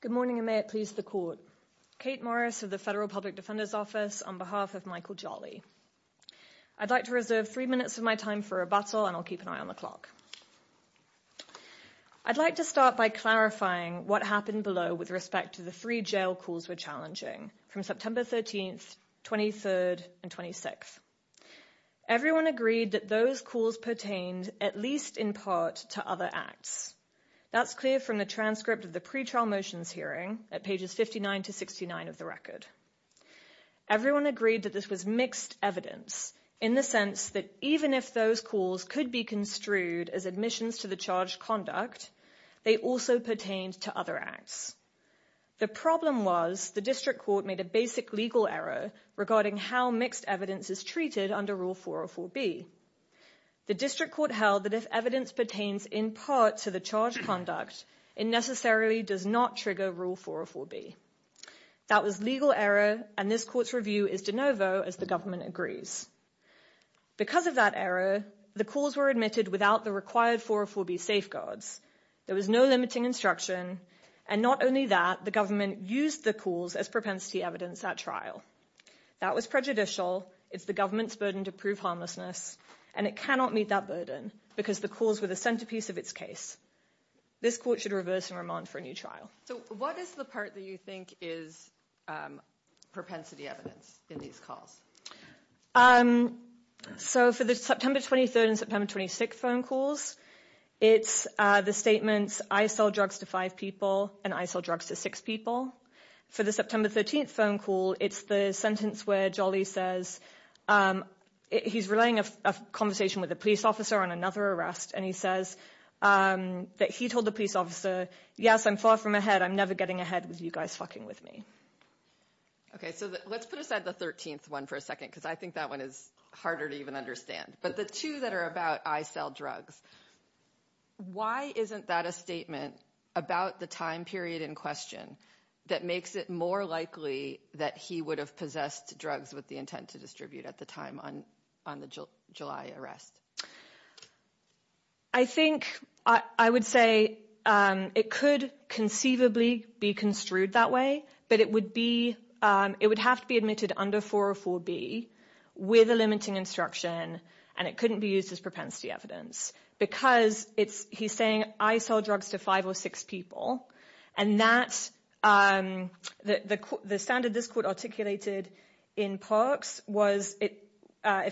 Good morning and may it please the court. Kate Morris of the Federal Public Defender's Office on behalf of Michael Jolly. I'd like to reserve three minutes of my time for rebuttal and I'll keep an eye on the clock. I'd like to start by clarifying what happened below with respect to the three jail calls were challenging from September 13th, 23rd and 26th. Everyone agreed that those calls pertained at least in part to other acts. That's clear from the transcript of the pretrial motions hearing at pages 59 to 69 of the record. Everyone agreed that this was mixed evidence in the sense that even if those calls could be construed as admissions to the charge conduct, they also pertained to other acts. The problem was the district court made a basic legal error regarding how mixed evidence is treated under Rule 404B. The district court held that if evidence pertains in part to the charge conduct, it necessarily does not trigger Rule 404B. That was legal error and this court's review is de novo as the government agrees. Because of that error, the calls were admitted without the required 404B safeguards. There was no limiting instruction and not only that, the government used the calls as propensity evidence at trial. That was prejudicial. It's the government's burden to prove harmlessness and it cannot meet that burden because the calls were the centerpiece of its case. This court should reverse and remand for a new trial. So what is the part that you think is propensity evidence in these calls? So for the September 23rd and September 26th phone calls, it's the statements, I sell drugs to five people and I sell drugs to six people. For the September 13th phone call, it's the sentence where Jolly says, he's relaying a conversation with a police officer on another arrest and he says that he told the police officer, yes, I'm far from ahead, I'm never getting ahead with you guys fucking with me. Okay, so let's put aside the 13th one for a second because I think that one is harder to even understand. But the two that are about I sell drugs, why isn't that a statement about the time period in question that makes it more likely that he would have possessed drugs with the intent to distribute at the time on the July arrest? I think I would say it could conceivably be construed that way, but it would have to be admitted under 404B with a limiting instruction and it couldn't be used as propensity evidence because he's saying I sell drugs to five or six people and the standard this court articulated in Parks was if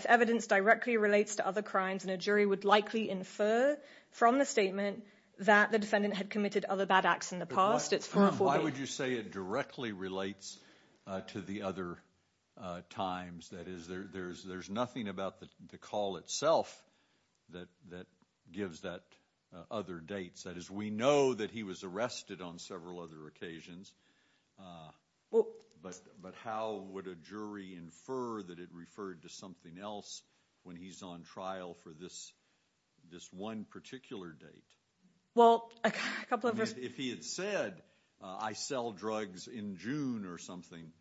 evidence directly relates to other crimes and a jury would likely infer from the statement that the defendant had committed other bad acts in the past, it's 404B. Why would you say it directly relates to the other times? That is, there's nothing about the call itself that gives that other dates. That is, we know that he was arrested on several other occasions, but how would a jury infer that it referred to something else when he's on trial for this one particular date? Well, a couple of... If he had said I sell drugs in June or something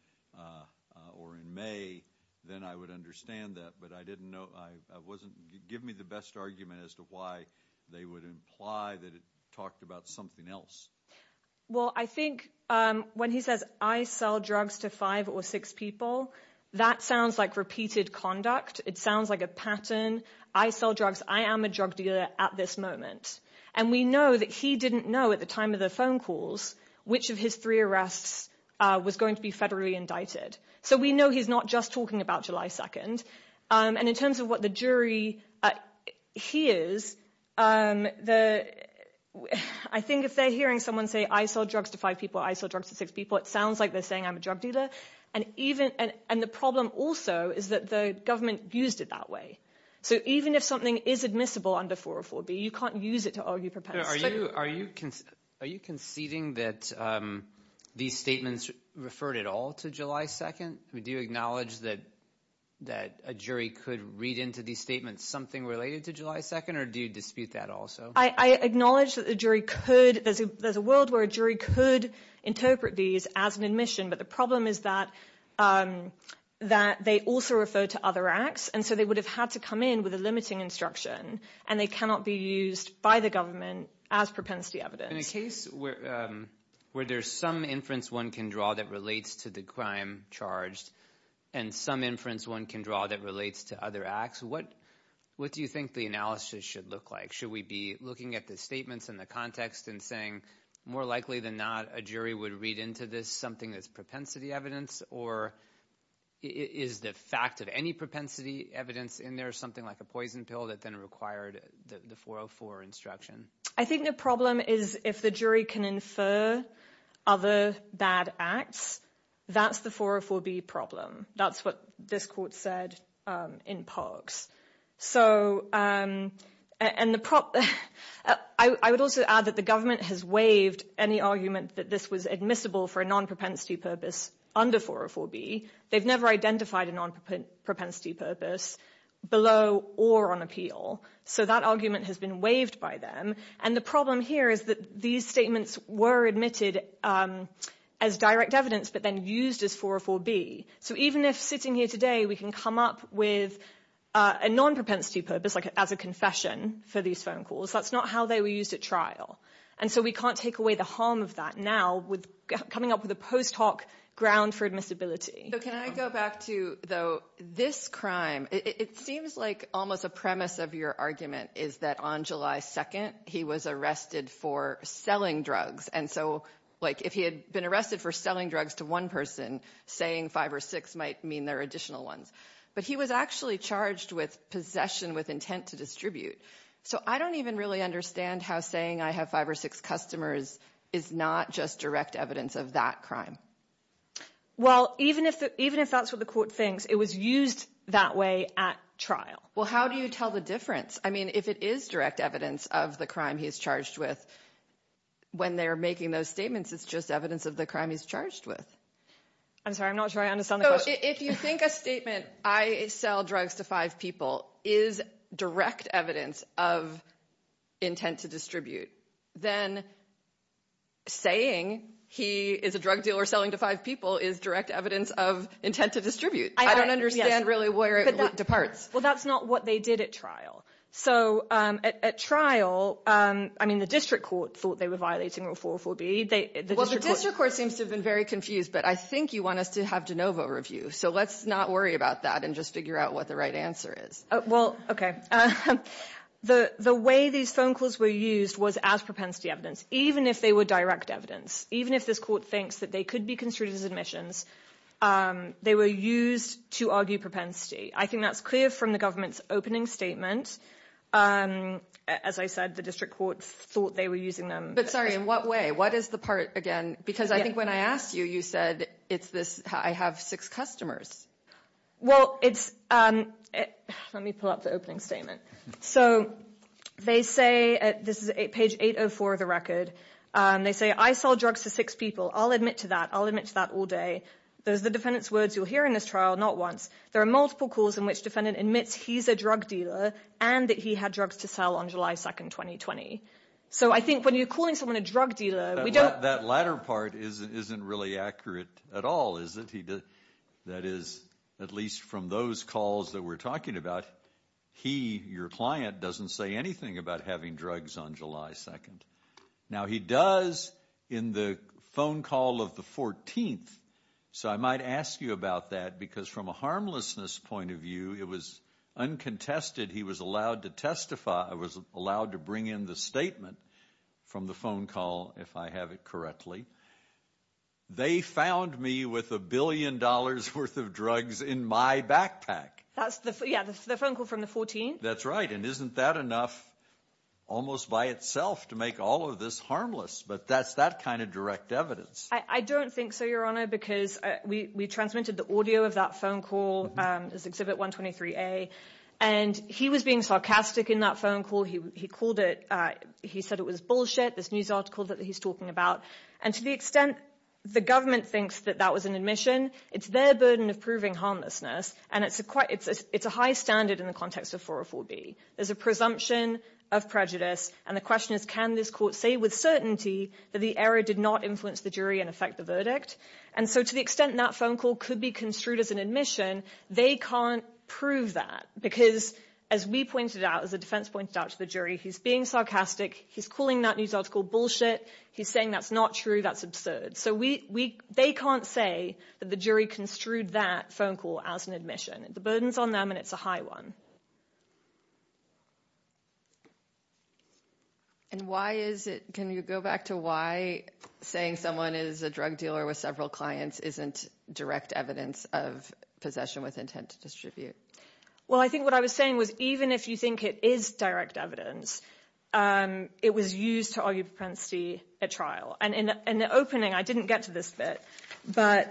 or in May, then I would understand that, but I didn't know, it wouldn't give me the best argument as to why they would imply that it talked about something else. Well, I think when he says I sell drugs to five or six people, that sounds like repeated conduct. It sounds like a pattern. I sell drugs. I am a drug dealer at this moment. And we know that he didn't know at the time of the phone calls which of his three arrests was going to be federally indicted. So we know he's not just talking about July 2nd. And in terms of what the jury hears, I think if they're hearing someone say I sell drugs to five people, I sell drugs to six people, it sounds like they're saying I'm a drug dealer. And the problem also is that the government used it that way. So even if something is admissible under 404B, you can't use it to argue propensity. Are you conceding that these statements referred at all to July 2nd? Do you acknowledge that that a jury could read into these statements something related to July 2nd? Or do you dispute that also? I acknowledge that the jury could. There's a world where a jury could interpret these as an admission. But the problem is that they also refer to other acts. And so they would have had to come in with a limiting instruction. And they cannot be used by the government as propensity evidence. In a case where there's some inference one can draw that relates to the crime charged and some inference one can draw that relates to other acts, what do you think the analysis should look like? Should we be looking at the statements and the context and saying more likely than not, a jury would read into this something that's propensity evidence? Or is the fact of any propensity evidence in there something like a poison pill that then required the 404 instruction? I think the problem is if the jury can infer other bad acts, that's the 404B problem. That's what this court said in Parks. And I would also add that the government has waived any argument that this was admissible for a non-propensity purpose under 404B. They've never identified a non-propensity purpose below or on appeal. So that argument has been waived by them. And the problem here is that these statements were admitted as direct evidence but then used as 404B. So even if sitting here today we can come up with a non-propensity purpose like as a confession for these phone calls, that's not how they were used at trial. And so we can't take away the harm of that now with coming up with a post hoc ground for admissibility. So can I go back to though, this crime, it seems like almost a premise of your argument is that on July 2nd, he was arrested for selling drugs. And so like if he had been arrested for selling drugs to one person, saying five or six might mean there are additional ones. But he was actually charged with possession with intent to distribute. So I don't even really understand how saying I have five or six customers is not just direct evidence of that crime. Well, even if that's what the court thinks, it was used that way at trial. Well, how do you tell the difference? I mean, if it is direct evidence of the crime he's charged with when they're making those statements, it's just evidence of the crime he's charged with. I'm sorry, I'm not sure I understand the question. If you think a statement, I sell drugs to five people is direct evidence of intent to distribute, then saying he is a drug dealer selling to five people is direct evidence of intent to distribute. I don't understand really where it departs. Well, that's not what they did at trial. So at trial, I mean, the district court thought they were violating Rule 404B. Well, the district court seems to have been very confused, but I think you want us to have de novo review. So let's not worry about that and just figure out what the right answer is. Well, OK. The way these phone calls were used was as propensity evidence, even if they were direct evidence. Even if this court thinks that they could be construed as admissions, they were used to argue propensity. I think that's clear from the government's opening statement. As I said, the district court thought they were using them. But sorry, in what way? What is the part again? Because I think when I asked you, you said it's this, I have six customers. Well, it's, let me pull up the opening statement. So they say, this is page 804 of the record. They say, I sell drugs to six people. I'll admit to that. I'll admit to that all day. Those are the defendant's words you'll hear in this trial, not once. There are multiple calls in which defendant admits he's a drug dealer and that he had drugs to sell on July 2nd, 2020. So I think when you're calling someone a drug dealer, we don't... That latter part isn't really accurate at all, is it? That is, at least from those calls that we're talking about, he, your client, doesn't say anything about having drugs on July 2nd. Now he does in the phone call of the 14th. So I might ask you about that because from a harmlessness point of view, it was uncontested. He was allowed to testify. I was allowed to bring in the statement from the phone call, if I have it correctly. They found me with a billion dollars worth of drugs in my backpack. That's the, yeah, the phone call from the 14th. That's right. And isn't that enough almost by itself to make all of this harmless, but that's that kind of direct evidence. I don't think so, Your Honor, because we transmitted the audio of that phone call, this Exhibit 123A, and he was being sarcastic in that phone call. He called it, he said it was bullshit, this news article that he's talking about. And to the extent the government thinks that that was an admission, it's their burden of harmlessness, and it's a high standard in the context of 404B. There's a presumption of prejudice, and the question is, can this court say with certainty that the error did not influence the jury and affect the verdict? And so to the extent that phone call could be construed as an admission, they can't prove that, because as we pointed out, as the defense pointed out to the jury, he's being sarcastic, he's calling that news article bullshit, he's saying that's not true, that's absurd. So they can't say that the jury construed that phone call as an admission. The burden's on them, and it's a high one. And why is it, can you go back to why saying someone is a drug dealer with several clients isn't direct evidence of possession with intent to distribute? Well, I think what I was saying was even if you think it is direct evidence, it was used to argue propensity at trial. And in the opening, I didn't get to this bit, but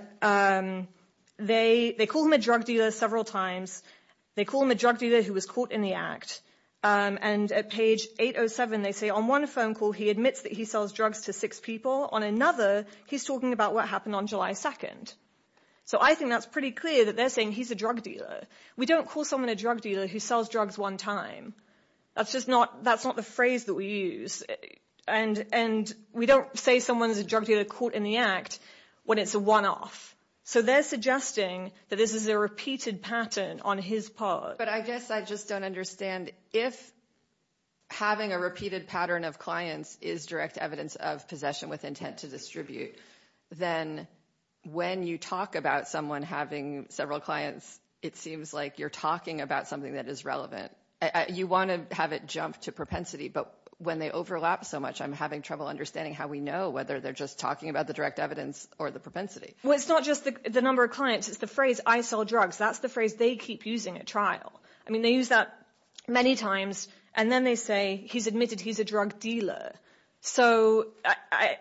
they call him a drug dealer several times, they call him a drug dealer who was caught in the act, and at page 807 they say on one phone call he admits that he sells drugs to six people, on another he's talking about what happened on July 2nd. So I think that's pretty clear that they're saying he's a drug dealer. We don't call someone a drug dealer who sells drugs one time. That's just not the phrase that we use. And we don't say someone's a drug dealer caught in the act when it's a one-off. So they're suggesting that this is a repeated pattern on his part. But I guess I just don't understand, if having a repeated pattern of clients is direct evidence of possession with intent to distribute, then when you talk about someone having several clients, it seems like you're talking about something that is relevant. You want to have it jump to propensity, but when they overlap so much, I'm having trouble understanding how we know whether they're just talking about the direct evidence or the propensity. Well, it's not just the number of clients, it's the phrase I sell drugs. That's the phrase they keep using at trial. I mean, they use that many times, and then they say he's admitted he's a drug dealer. So I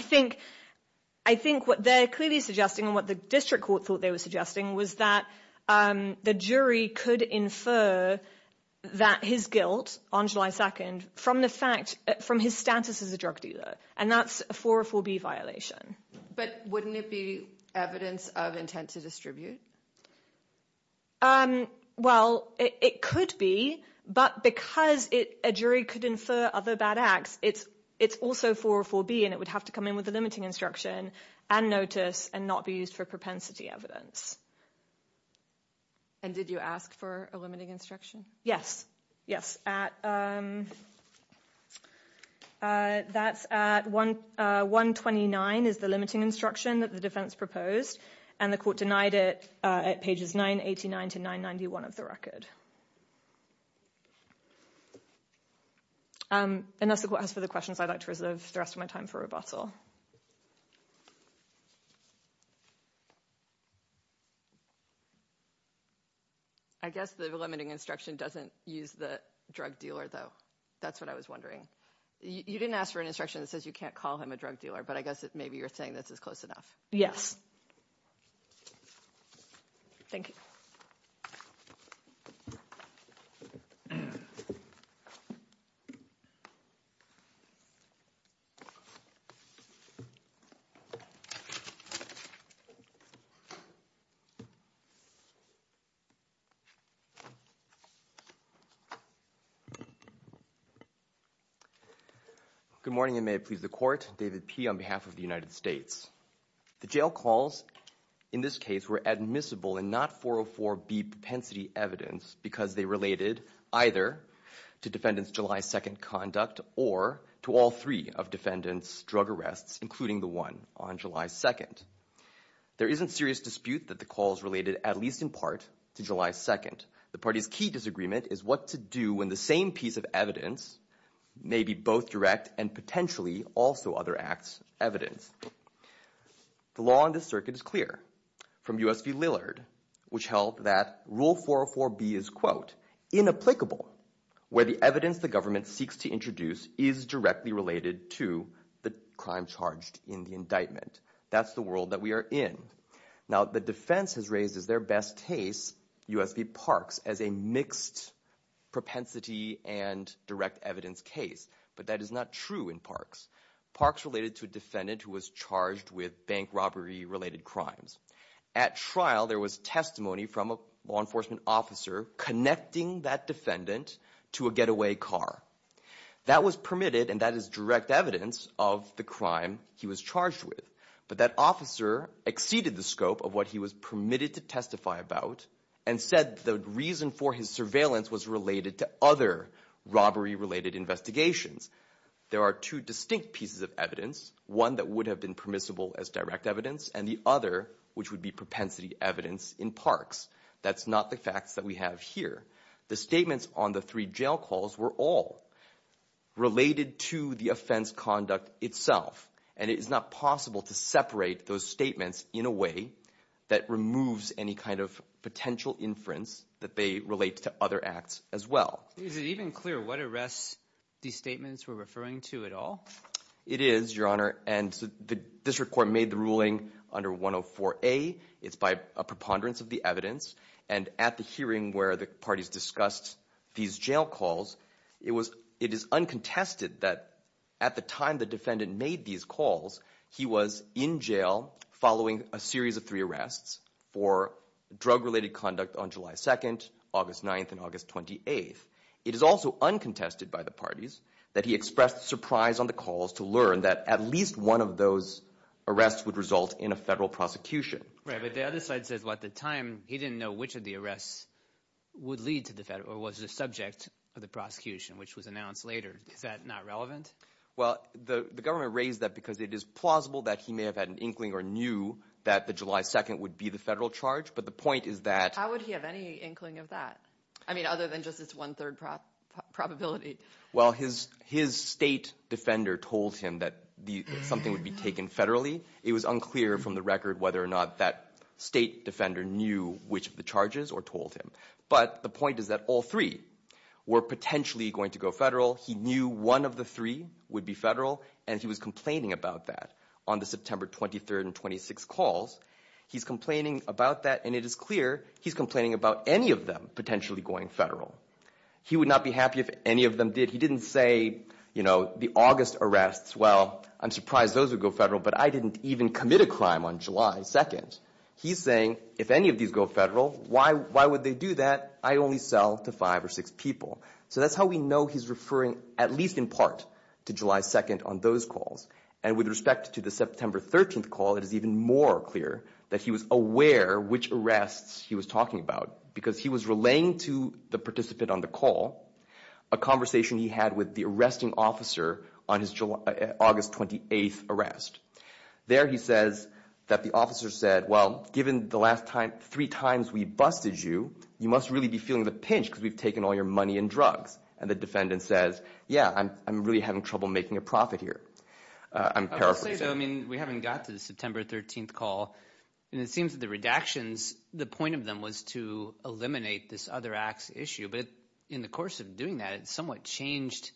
think what they're clearly suggesting and what the district court thought they were suggesting was that the jury could infer that his guilt on July 2nd from his status as a drug dealer, and that's a 404B violation. But wouldn't it be evidence of intent to distribute? Well, it could be, but because a jury could infer other bad acts, it's also 404B, and it would have to come in with a limiting instruction and notice and not be used for propensity evidence. And did you ask for a limiting instruction? Yes, yes. That's at 129 is the limiting instruction that the defense proposed, and the court denied it at pages 989 to 991 of the record. And that's the court has for the questions. I'd like to reserve the rest of my time for rebuttal. I guess the limiting instruction doesn't use the drug dealer, though. That's what I was wondering. You didn't ask for an instruction that says you can't call him a drug dealer, but I guess maybe you're saying this is close enough. Yes. Thank you. Good morning, and may it please the court. David P. on behalf of the United States. The jail calls in this case were admissible and not 404B propensity evidence because they related either to defendants' July 2nd conduct or to all three of defendants' drug arrests, including the one on July 2nd. There isn't serious dispute that the call is related, at least in part, to July 2nd. The party's key disagreement is what to do when the same piece of evidence may be both direct and potentially also other acts evidence. The law on this circuit is clear from U.S. v. Lillard, which held that rule 404B is, quote, inapplicable where the evidence the government seeks to introduce is directly related to the crime charged in the indictment. That's the world that we are in. Now, the defense has raised as their best case U.S. v. Parks as a mixed propensity and direct evidence case, but that is not true in Parks. Parks related to a defendant who was charged with bank robbery-related crimes. At trial, there was testimony from a law enforcement officer connecting that defendant to a getaway car. That was permitted and that is direct evidence of the crime he was charged with, but that officer exceeded the scope of what he was permitted to testify about and said the reason for his surveillance was related to other robbery-related investigations. There are two distinct pieces of evidence, one that would have been permissible as direct evidence, and the other which would be propensity evidence in Parks. That's not the facts that we have here. The statements on the three jail calls were all related to the offense conduct itself, and it is not possible to separate those statements in a way that removes any kind of potential inference that they relate to other acts as well. Is it even clear what arrests these statements were referring to at all? It is, Your Honor, and the district court made the ruling under 104A. It's by a preponderance of the evidence, and at the hearing where the parties discussed these jail calls, it is uncontested that at the time the defendant made these calls, he was in jail following a series of three arrests for drug-related conduct on July 2nd, August 9th, and August 28th. It is also uncontested by the parties that he expressed surprise on the calls to learn that at least one of those arrests would result in a federal prosecution. Right, but the other side says, well, at the time, he didn't know which of the arrests would lead to the federal, or was the subject of the prosecution, which was announced later. Is that not relevant? Well, the government raised that because it is plausible that he may have had an inkling or knew that the July 2nd would be the federal charge, but the point is that How would he have any inkling of that? I mean, other than just this one-third probability. Well, his state defender told him that something would be taken federally. It was unclear from the record whether or not that state defender knew which of the charges or told him, but the point is that all three were potentially going to go federal. He knew one of the three would be federal, and he was complaining about that on the September 23rd and 26th calls. He's complaining about that, and it is clear he's complaining about any of them potentially going federal. He would not be happy if any of them did. He didn't say, you know, the August arrests, well, I'm surprised those would go federal, but I didn't even commit a crime on July 2nd. He's saying, if any of these go federal, why would they do that? I only sell to five or six people. So that's how we know he's referring at least in part to July 2nd on those calls, and with respect to the September 13th call, it is even more clear that he was aware which arrests he was talking about because he was laying to the participant on the call a conversation he had with the arresting officer on his August 28th arrest. There he says that the officer said, well, given the last time, three times we busted you, you must really be feeling the pinch because we've taken all your money and drugs, and the defendant says, yeah, I'm really having trouble making a profit here. I'm paraphrasing. I would say, though, I mean, we haven't got to the September 13th call, and it seems that the redactions, the point of them was to eliminate this other acts issue, but in the course of doing that, it somewhat changed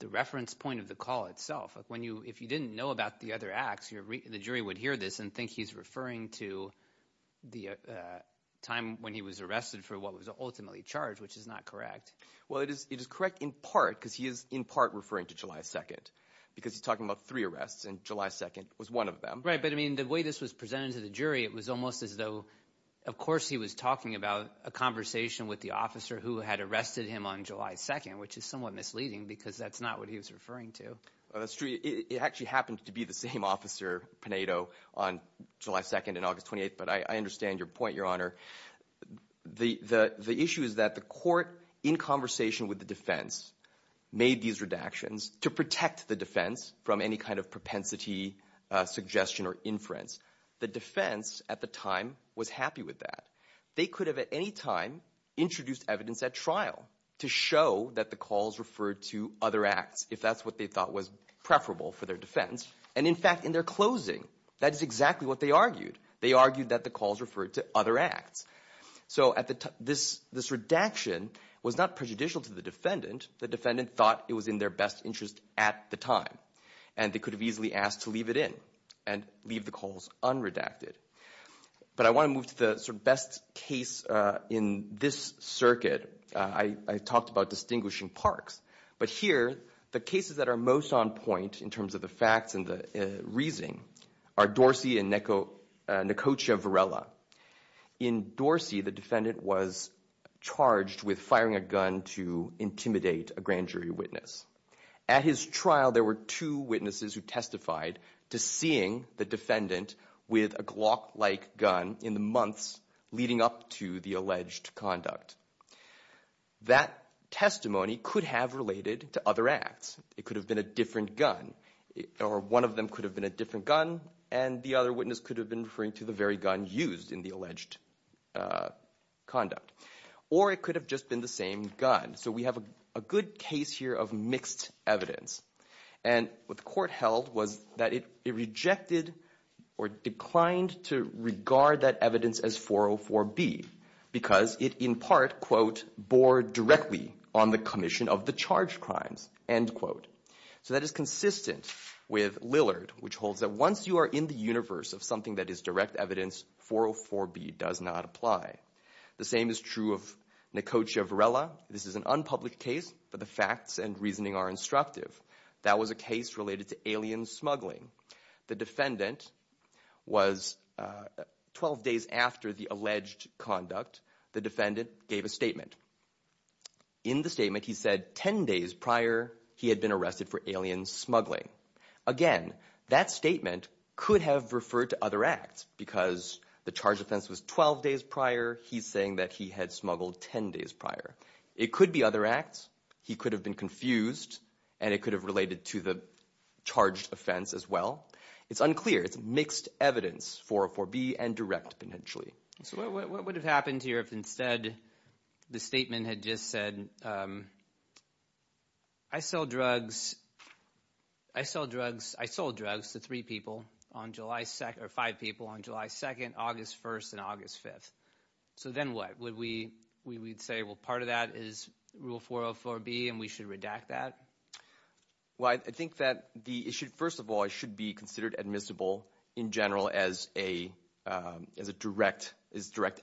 the reference point of the call itself. If you didn't know about the other acts, the jury would hear this and think he's referring to the time when he was arrested for what was ultimately charged, which is not correct. Well, it is correct in part because he is in part referring to July 2nd because he's talking about three arrests, and July 2nd was one of them. Right, but I mean, the way this was presented to the jury, it was almost as though, of course, he was talking about a conversation with the officer who had arrested him on July 2nd, which is somewhat misleading because that's not what he was referring to. Well, that's true. It actually happened to be the same officer, Pinedo, on July 2nd and August 28th, but I understand your point, Your Honor. The issue is that the court, in conversation with the defense, made these redactions to protect the defense from any kind of propensity, suggestion, or inference. The defense, at the time, was happy with that. They could have, at any time, introduced evidence at trial to show that the calls referred to other acts if that's what they thought was preferable for their defense, and in fact, in their closing, that is exactly what they argued. They argued that the calls referred to other acts. So this redaction was not prejudicial to the defendant. The defendant thought it was in their best interest at the time, and they could have easily asked to leave it in and leave the calls unredacted. But I want to move to the sort of best case in this circuit. I talked about distinguishing parks, but here, the cases that are most on point in terms of the facts and the reasoning are Dorsey and Nekocha Varela. In Dorsey, the defendant was charged with firing a gun to intimidate a grand jury witness. At his trial, there were two witnesses who testified to seeing the defendant with a Glock-like gun in the months leading up to the alleged conduct. That testimony could have related to other acts. It could have been a different gun, or one of them could have been a different gun, and the other witness could have been referring to the very gun used in the alleged conduct. Or it could have just been the same gun. So we have a good case here of mixed evidence. And what the court held was that it rejected or declined to regard that evidence as 404B because it in part, quote, bore directly on the commission of the crimes, end quote. So that is consistent with Lillard, which holds that once you are in the universe of something that is direct evidence, 404B does not apply. The same is true of Nekocha Varela. This is an unpublished case, but the facts and reasoning are instructive. That was a case related to alien smuggling. The defendant was, 12 days after the alleged conduct, the defendant gave a statement. In the statement, he said 10 days prior, he had been arrested for alien smuggling. Again, that statement could have referred to other acts because the charge offense was 12 days prior. He's saying that he had smuggled 10 days prior. It could be other acts. He could have been confused, and it could have related to the charged offense as well. It's unclear. It's mixed evidence, 404B and direct potentially. So what would have happened here if instead the statement had just said, I sold drugs to three people on July 2nd, or five people on July 2nd, August 1st, and August 5th? So then what? We'd say, well, part of that is rule 404B, and we should redact that? Well, I think that the issue, first of all, should be considered admissible in general as direct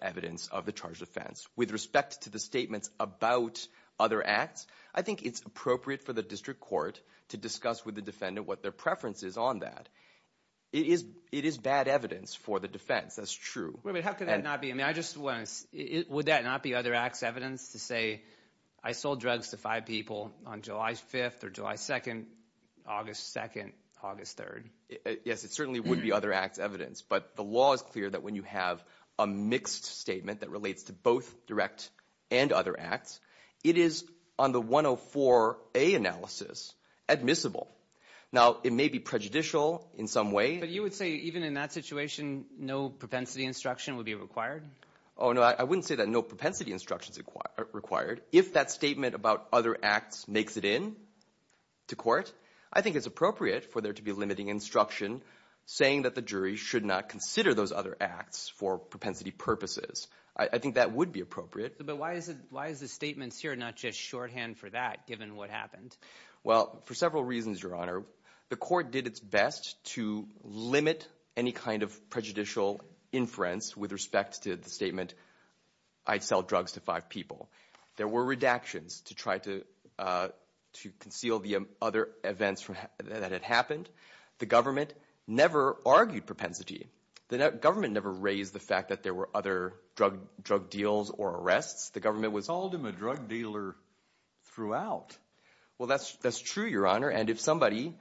evidence of the charged offense. With respect to the statements about other acts, I think it's appropriate for the district court to discuss with the defendant what their preference is on that. It is bad evidence for the defense. That's true. Wait a minute. How could that not be? I just want to, would that not be other acts evidence to say, I sold drugs to five people on July 5th or July 2nd, August 2nd, August 3rd? Yes, it certainly would be other acts evidence, but the law is clear that when you have a mixed statement that relates to both direct and other acts, it is on the 104A analysis admissible. Now, it may be prejudicial in some way. But you would say even in that situation, no propensity instruction would be required? Oh, no, I wouldn't say that no propensity instruction is required. If that statement about other acts makes it in to court, I think it's appropriate for there to be limiting instruction saying that the jury should not consider those other acts for propensity purposes. I think that would be appropriate. But why is the statements here not just shorthand for that, given what happened? Well, for several reasons, Your Honor. The court did its best to limit any kind of prejudicial inference with respect to the statement, I'd sell drugs to five people. There were redactions to try to conceal the other events that had happened. The government never argued propensity. The government never raised the fact that there were other drug deals or arrests. The government was... Called him a drug dealer throughout. Well, that's true, Your Honor. And somebody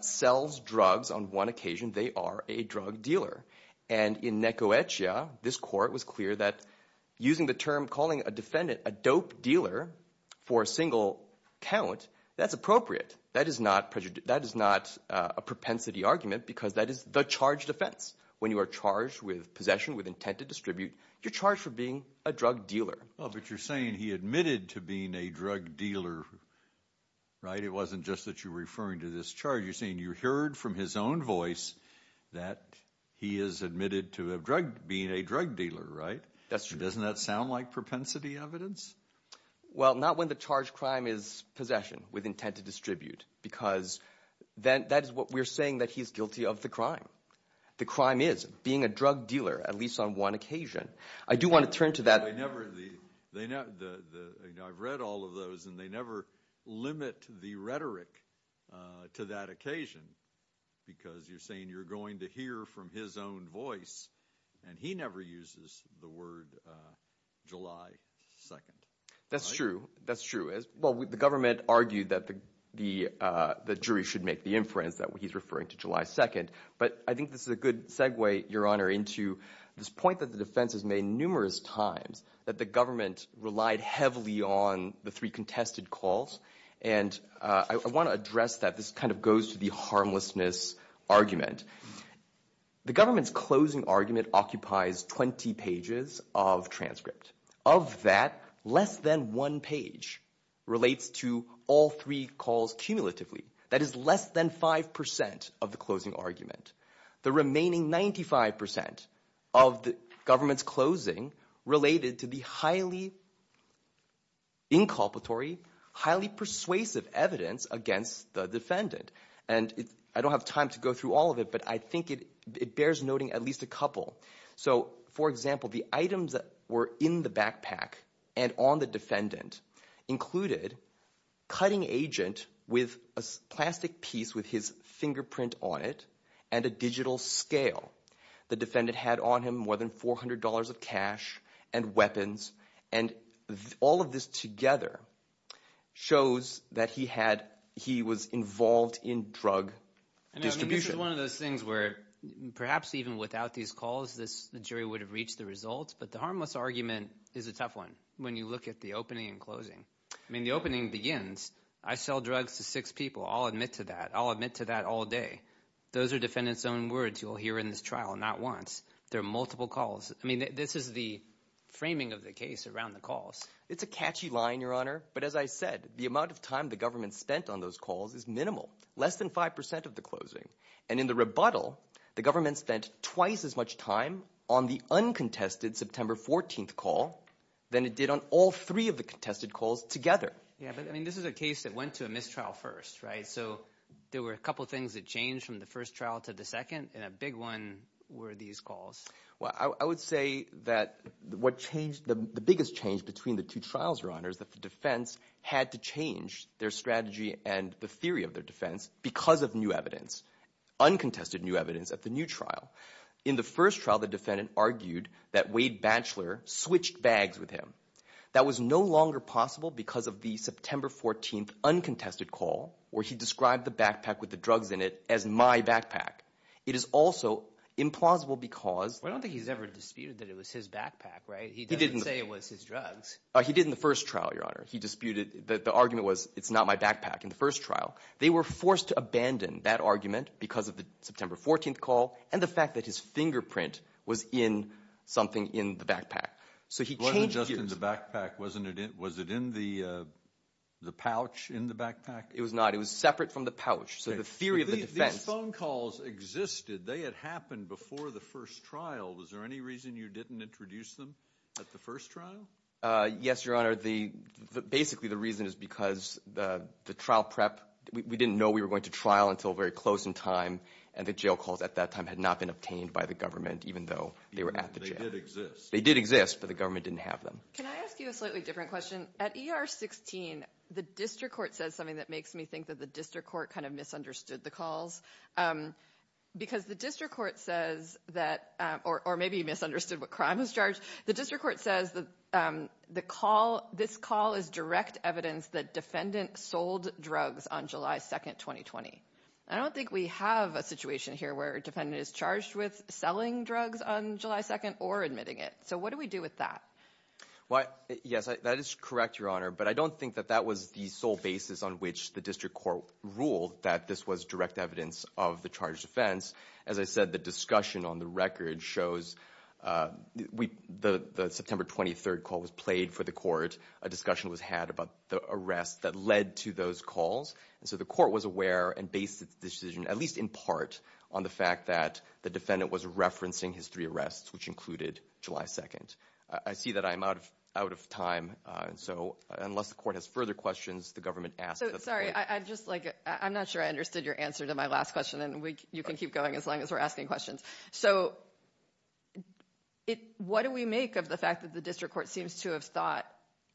sells drugs on one occasion, they are a drug dealer. And in Nekoetia, this court was clear that using the term, calling a defendant a dope dealer for a single count, that's appropriate. That is not a propensity argument because that is the charge defense. When you are charged with possession with intent to distribute, you're charged for being a drug dealer. Oh, but you're admitted to being a drug dealer, right? It wasn't just that you're referring to this charge. You're saying you heard from his own voice that he is admitted to being a drug dealer, right? That's true. Doesn't that sound like propensity evidence? Well, not when the charge crime is possession with intent to distribute because that is what we're saying, that he's guilty of the crime. The crime is being a drug dealer, at least on one occasion. I do want to turn to that. I've read all of those and they never limit the rhetoric to that occasion because you're saying you're going to hear from his own voice and he never uses the word July 2nd. That's true. That's true. Well, the government argued that the jury should make the inference that he's referring to July 2nd. But I think this is a good segue, Your Honor, into this point that the defense has made numerous times that the government relied heavily on the three contested calls. And I want to address that. This kind of goes to the harmlessness argument. The government's closing argument occupies 20 pages of transcript. Of that, less than one page relates to all three calls cumulatively. That is less than 5% of the closing of the government's closing related to the highly inculpatory, highly persuasive evidence against the defendant. And I don't have time to go through all of it, but I think it bears noting at least a couple. So, for example, the items that were in the backpack and on the defendant included cutting agent with a plastic piece with his fingerprint on it and a digital scale. The more than $400 of cash and weapons. And all of this together shows that he was involved in drug distribution. This is one of those things where perhaps even without these calls, the jury would have reached the results. But the harmless argument is a tough one when you look at the opening and closing. I mean, the opening begins. I sell drugs to six people. I'll admit to that. I'll admit to that all day. Those are defendants' own words you'll hear in this trial, not once. There are multiple calls. I mean, this is the framing of the case around the calls. It's a catchy line, Your Honor. But as I said, the amount of time the government spent on those calls is minimal, less than 5% of the closing. And in the rebuttal, the government spent twice as much time on the uncontested September 14th call than it did on all three of the contested calls together. Yeah, but I mean, this is a case that went to a mistrial first, right? So there were a couple of things that changed from the first trial to the second, and a big one were these calls. Well, I would say that the biggest change between the two trials, Your Honor, is that the defense had to change their strategy and the theory of their defense because of new evidence, uncontested new evidence at the new trial. In the first trial, the defendant argued that Wade Batchelor switched bags with him. That was no longer possible because of the September 14th uncontested call where he described the backpack with the drugs in it as my backpack. It is also implausible because... I don't think he's ever disputed that it was his backpack, right? He didn't say it was his drugs. He did in the first trial, Your Honor. He disputed that the argument was, it's not my backpack in the first trial. They were forced to abandon that argument because of the September 14th call and the fact that his fingerprint was in something in the backpack. So he changed... It wasn't just in the backpack, was it in the pouch in the backpack? It was not. It was separate from the pouch. So the theory of the defense... If these phone calls existed, they had happened before the first trial. Was there any reason you didn't introduce them at the first trial? Yes, Your Honor. Basically, the reason is because the trial prep, we didn't know we were going to trial until very close in time and the jail calls at that time had not been obtained by the government even though they were at the jail. They did exist. They did exist, but the government didn't have them. Can I ask you a slightly different question? At ER 16, the district court says something that the district court misunderstood the calls because the district court says that... Or maybe you misunderstood what crime was charged. The district court says that this call is direct evidence that defendant sold drugs on July 2nd, 2020. I don't think we have a situation here where a defendant is charged with selling drugs on July 2nd or admitting it. So what do we do with that? Well, yes, that is correct, Your Honor. But I don't think that that was the sole basis on which the district court ruled that this was direct evidence of the charged offense. As I said, the discussion on the record shows the September 23rd call was played for the court. A discussion was had about the arrest that led to those calls. And so the court was aware and based its decision, at least in part, on the fact that the defendant was referencing his three arrests, which included July 2nd. I see that I'm out of time. So unless the court has further questions, the government asked... Sorry, I'm not sure I understood your answer to my last question, and you can keep going as long as we're asking questions. So what do we make of the fact that the district court seems to have thought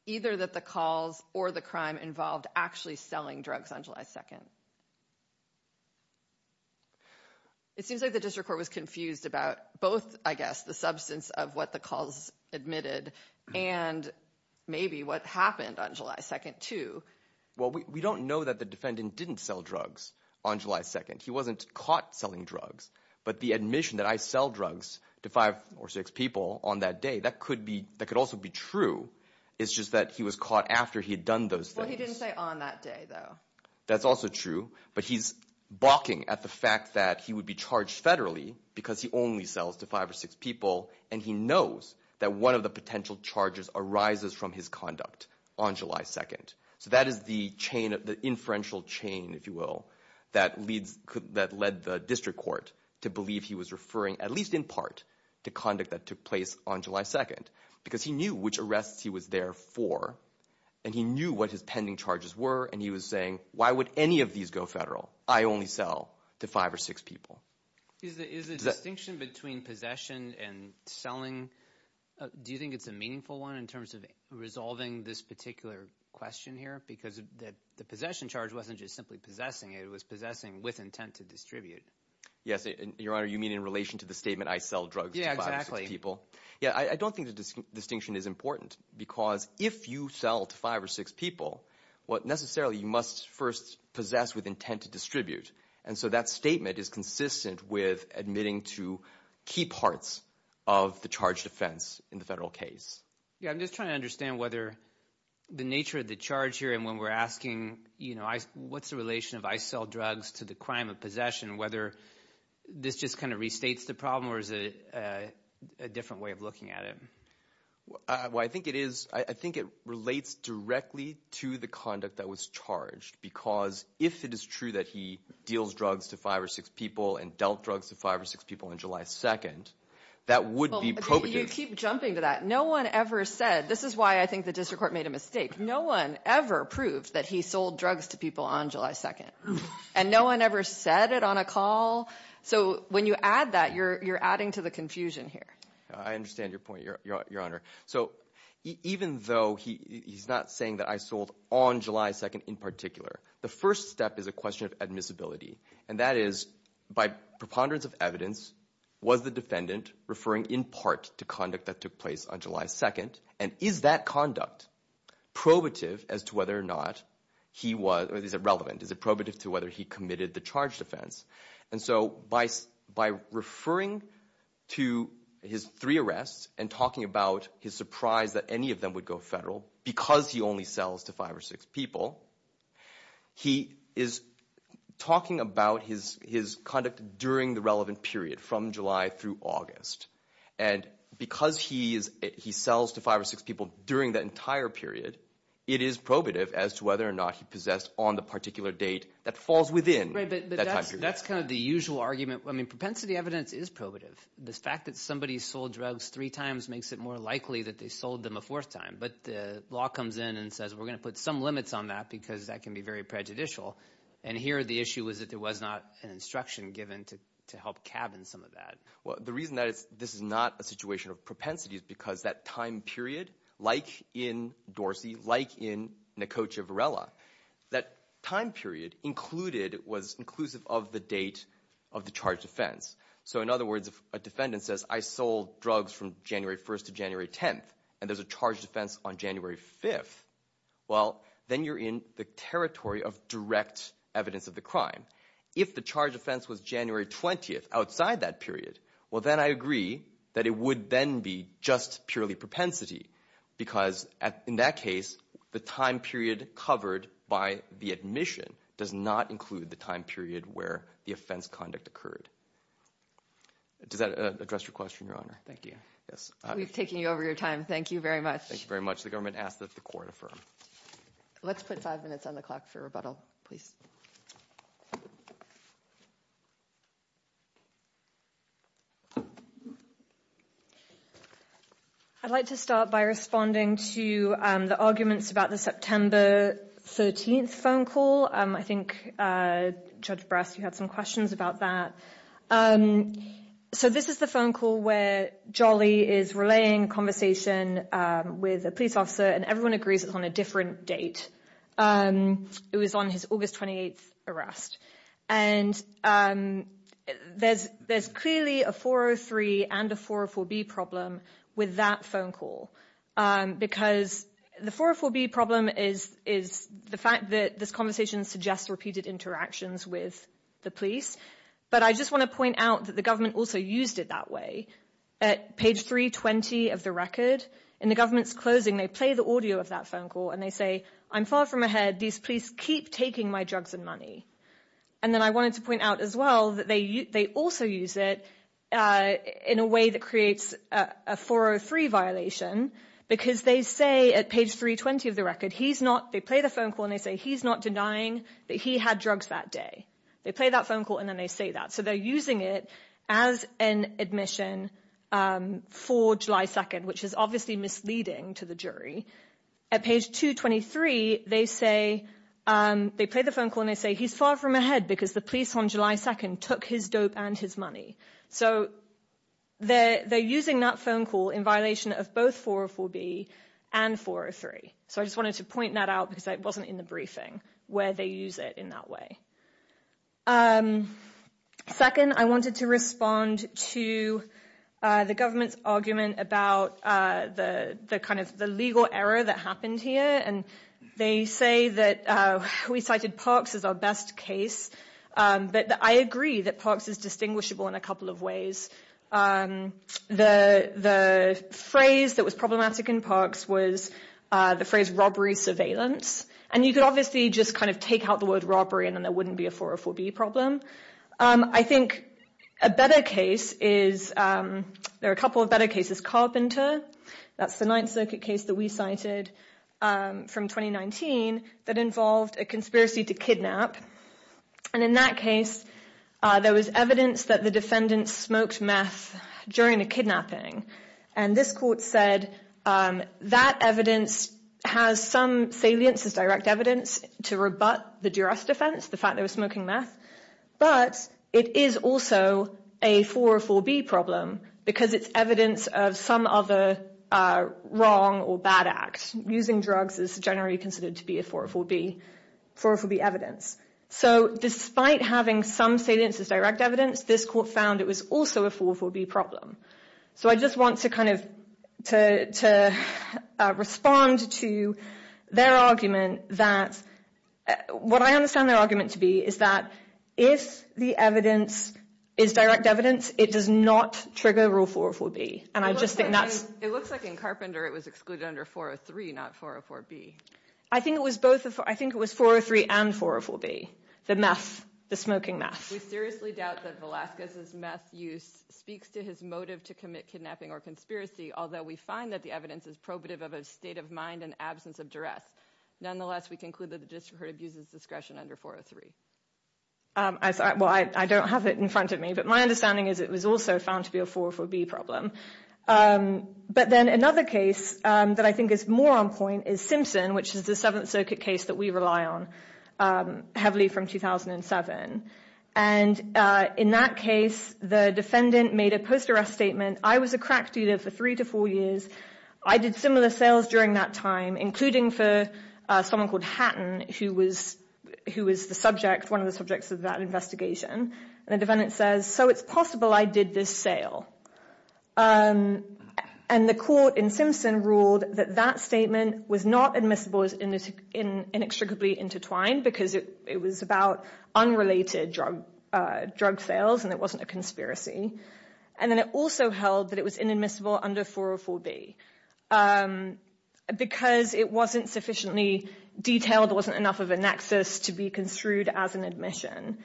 either that the calls or the crime involved actually selling drugs on July 2nd? It seems like the district court was confused about both, I guess, the substance of what the calls admitted and maybe what happened on July 2nd too. Well, we don't know that the defendant didn't sell drugs on July 2nd. He wasn't caught selling drugs. But the admission that I sell drugs to five or six people on that day, that could also be true. It's just that he was caught after he had done those things. Well, he didn't say on that day though. That's also true. But he's balking at the fact that he would be charged and he knows that one of the potential charges arises from his conduct on July 2nd. So that is the inferential chain, if you will, that led the district court to believe he was referring, at least in part, to conduct that took place on July 2nd. Because he knew which arrests he was there for, and he knew what his pending charges were, and he was saying, why would any of these federal? I only sell to five or six people. Is the distinction between possession and selling, do you think it's a meaningful one in terms of resolving this particular question here? Because the possession charge wasn't just simply possessing it, it was possessing with intent to distribute. Yes, your honor, you mean in relation to the statement, I sell drugs to five or six people? Yeah, exactly. Yeah, I don't think the distinction is important because if you sell to five or six people, what necessarily you must first possess with intent to distribute. And so that statement is consistent with admitting to key parts of the charge defense in the federal case. Yeah, I'm just trying to understand whether the nature of the charge here and when we're asking, you know, what's the relation of I sell drugs to the crime of possession, whether this just kind of restates the problem or is it a different way of looking at it? Well, I think it is, I think it relates directly to the conduct that was charged because if it is true that he deals drugs to five or six people and dealt drugs to five or six people on July 2nd, that would be probative. You keep jumping to that. No one ever said, this is why I think the district court made a mistake. No one ever proved that he sold drugs to people on July 2nd and no one ever said it on a call. So when you add that, you're adding to the confusion here. I understand your honor. So even though he's not saying that I sold on July 2nd in particular, the first step is a question of admissibility. And that is by preponderance of evidence, was the defendant referring in part to conduct that took place on July 2nd? And is that conduct probative as to whether or not he was, or is it relevant? Is it probative to whether he committed the charge And so by referring to his three arrests and talking about his surprise that any of them would go federal, because he only sells to five or six people, he is talking about his conduct during the relevant period from July through August. And because he sells to five or six people during that entire period, it is probative as to whether or not he possessed on the particular date that falls within that time period. That's kind of the usual argument. I mean, propensity evidence is probative. The fact that somebody sold drugs three times makes it more likely that they sold them a fourth time. But the law comes in and says we're going to put some limits on that because that can be very prejudicial. And here the issue is that there was not an instruction given to help cabin some of that. Well, the reason that this is not a situation of propensity is because that time period, like in Dorsey, like in Nekocha Varela, that time period included was inclusive of the date of the charge defense. So in other words, if a defendant says I sold drugs from January 1st to January 10th and there's a charge defense on January 5th, well, then you're in the territory of direct evidence of the crime. If the charge offense was January 20th outside that period, well, then I agree that it would then be just purely propensity because in that case the time period covered by the admission does not include the time period where the offense conduct occurred. Does that address your question, Your Honor? Thank you. Yes. We've taken you over your time. Thank you very much. Thank you very much. The government asks that the court affirm. Let's put five minutes on the clock for rebuttal, please. I'd like to start by responding to the arguments about the September 13th phone call. I think Judge Brass, you had some questions about that. So this is the phone call where Jolly is relaying conversation with a police officer and everyone agrees it's on a different date. It was on his and a 404B problem with that phone call because the 404B problem is the fact that this conversation suggests repeated interactions with the police. But I just want to point out that the government also used it that way. At page 320 of the record, in the government's closing, they play the audio of that phone call and they say, I'm far from ahead. These police keep taking my drugs and money. And then I wanted to point out as well that they also use it in a way that creates a 403 violation because they say at page 320 of the record, they play the phone call and they say, he's not denying that he had drugs that day. They play that phone call and then they say that. So they're using it as an admission for July 2nd, which is obviously misleading to the jury. At page 223, they play the because the police on July 2nd took his dope and his money. So they're using that phone call in violation of both 404B and 403. So I just wanted to point that out because it wasn't in the briefing where they use it in that way. Second, I wanted to respond to the government's argument about the kind of the legal error that happened here. And they say that we cited Parks as our best case. But I agree that Parks is distinguishable in a couple of ways. The phrase that was problematic in Parks was the phrase robbery surveillance. And you could obviously just kind of take out the word robbery and then there wouldn't be a 404B problem. I think a better case is, there are a couple of better cases. Carpenter, that's the Ninth Circuit case that we cited from 2019 that involved a conspiracy to kidnap. And in that case, there was evidence that the defendant smoked meth during the kidnapping. And this court said that evidence has some salience as direct evidence to rebut the juror's defense, the fact they were smoking meth. But it is also a 404B problem because it's evidence of some other wrong or bad act. Using drugs is generally considered to be a 404B evidence. So despite having some salience as direct evidence, this court found it was also a 404B problem. So I just want to kind of respond to their argument that, what I understand their argument to be is that if the evidence is direct evidence, it does not trigger Rule 404B. And I just think that's... It looks like in Carpenter it was excluded under 403, not 404B. I think it was both. I think it was 403 and 404B, the meth, the smoking meth. We seriously doubt that Velazquez's meth use speaks to his motive to commit kidnapping or conspiracy, although we find that the evidence is probative of a state of mind and absence of arrest. Nonetheless, we conclude that the district court abuses discretion under 403. Well, I don't have it in front of me, but my understanding is it was also found to be a 404B problem. But then another case that I think is more on point is Simpson, which is the 7th Circuit case that we rely on, heavily from 2007. And in that case, the defendant made a post-arrest statement. I was a crack dealer for three to four years. I did similar sales during that time, including for someone called Hatton, who was the subject, one of the subjects of that investigation. And the defendant says, so it's possible I did this sale. And the court in Simpson ruled that that statement was not admissible as inextricably intertwined because it was about unrelated drug sales and it wasn't a conspiracy. And then it also held that it was inadmissible under 404B because it wasn't sufficiently detailed, wasn't enough of a nexus to be construed as an admission.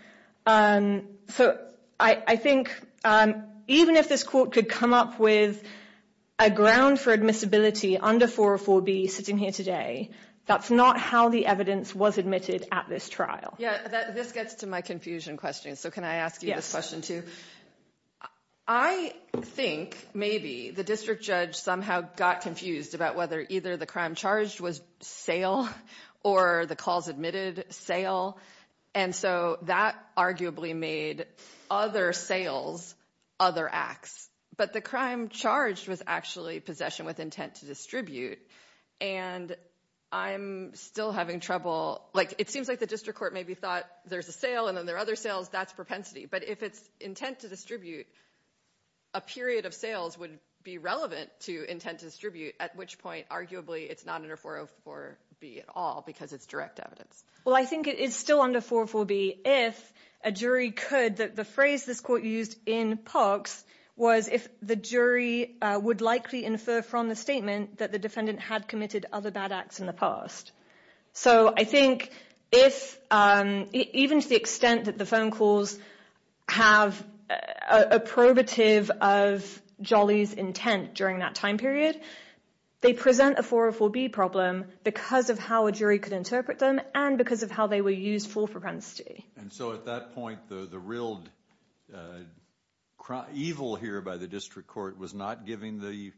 So I think even if this court could come up with a ground for admissibility under 404B sitting here today, that's not how the evidence was admitted at this trial. Yeah, this gets to my confusion question. So can I ask you this question too? I think maybe the district judge somehow got confused about whether either the crime charged was sale or the cause admitted sale. And so that arguably made other sales, other acts. But the crime charged was actually possession with intent to distribute. And I'm still having trouble, like it seems like the district court maybe thought there's a sale and then there are other sales, that's propensity. But if it's intent to distribute, a period of sales would be relevant to intent to distribute, at which point arguably it's not under 404B at all because it's direct evidence. Well, I think it is still under 404B if a jury could, that the phrase this court used in Parks was if the jury would likely infer from the statement that the defendant had committed other bad acts in the past. So I think if, even to the extent that the phone calls have a probative of Jolly's intent during that time period, they present a 404B problem because of how a jury could interpret them and because of how they were used for propensity. And so at that point the real evil here by the district court was not giving the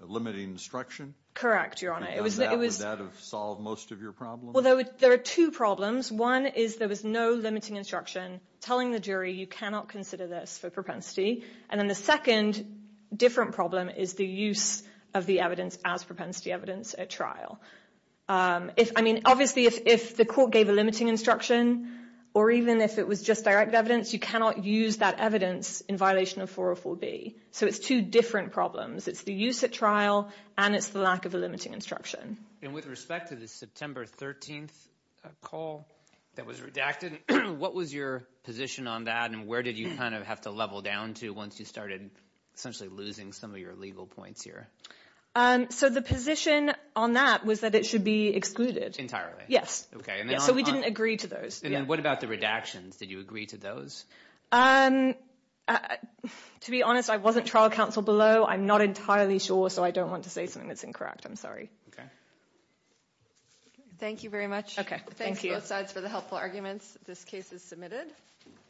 limiting instruction? Correct, your honor. Would that have solved most of your problem? Well, there are two problems. One is there was no limiting instruction telling the jury you cannot consider this for propensity. And then the second different problem is the use of the evidence as propensity evidence at trial. If, I mean, obviously if the court gave a limiting instruction or even if it was just direct evidence, you cannot use that evidence in violation of 404B. So it's two different problems. It's the use at trial and it's the lack of a limiting instruction. And with respect to the September 13th call that was redacted, what was your position on that and where did you kind of have to level down to once you started essentially losing some of your legal points here? So the position on that was that it should be excluded. Entirely? Yes. Okay. So we didn't agree to those. What about the redactions? Did you agree to those? To be honest, I wasn't trial counsel below. I'm not entirely sure, so I don't want to say something that's incorrect. I'm sorry. Okay. Thank you very much. Okay, thank you. Thanks both sides for the helpful arguments. This case is submitted.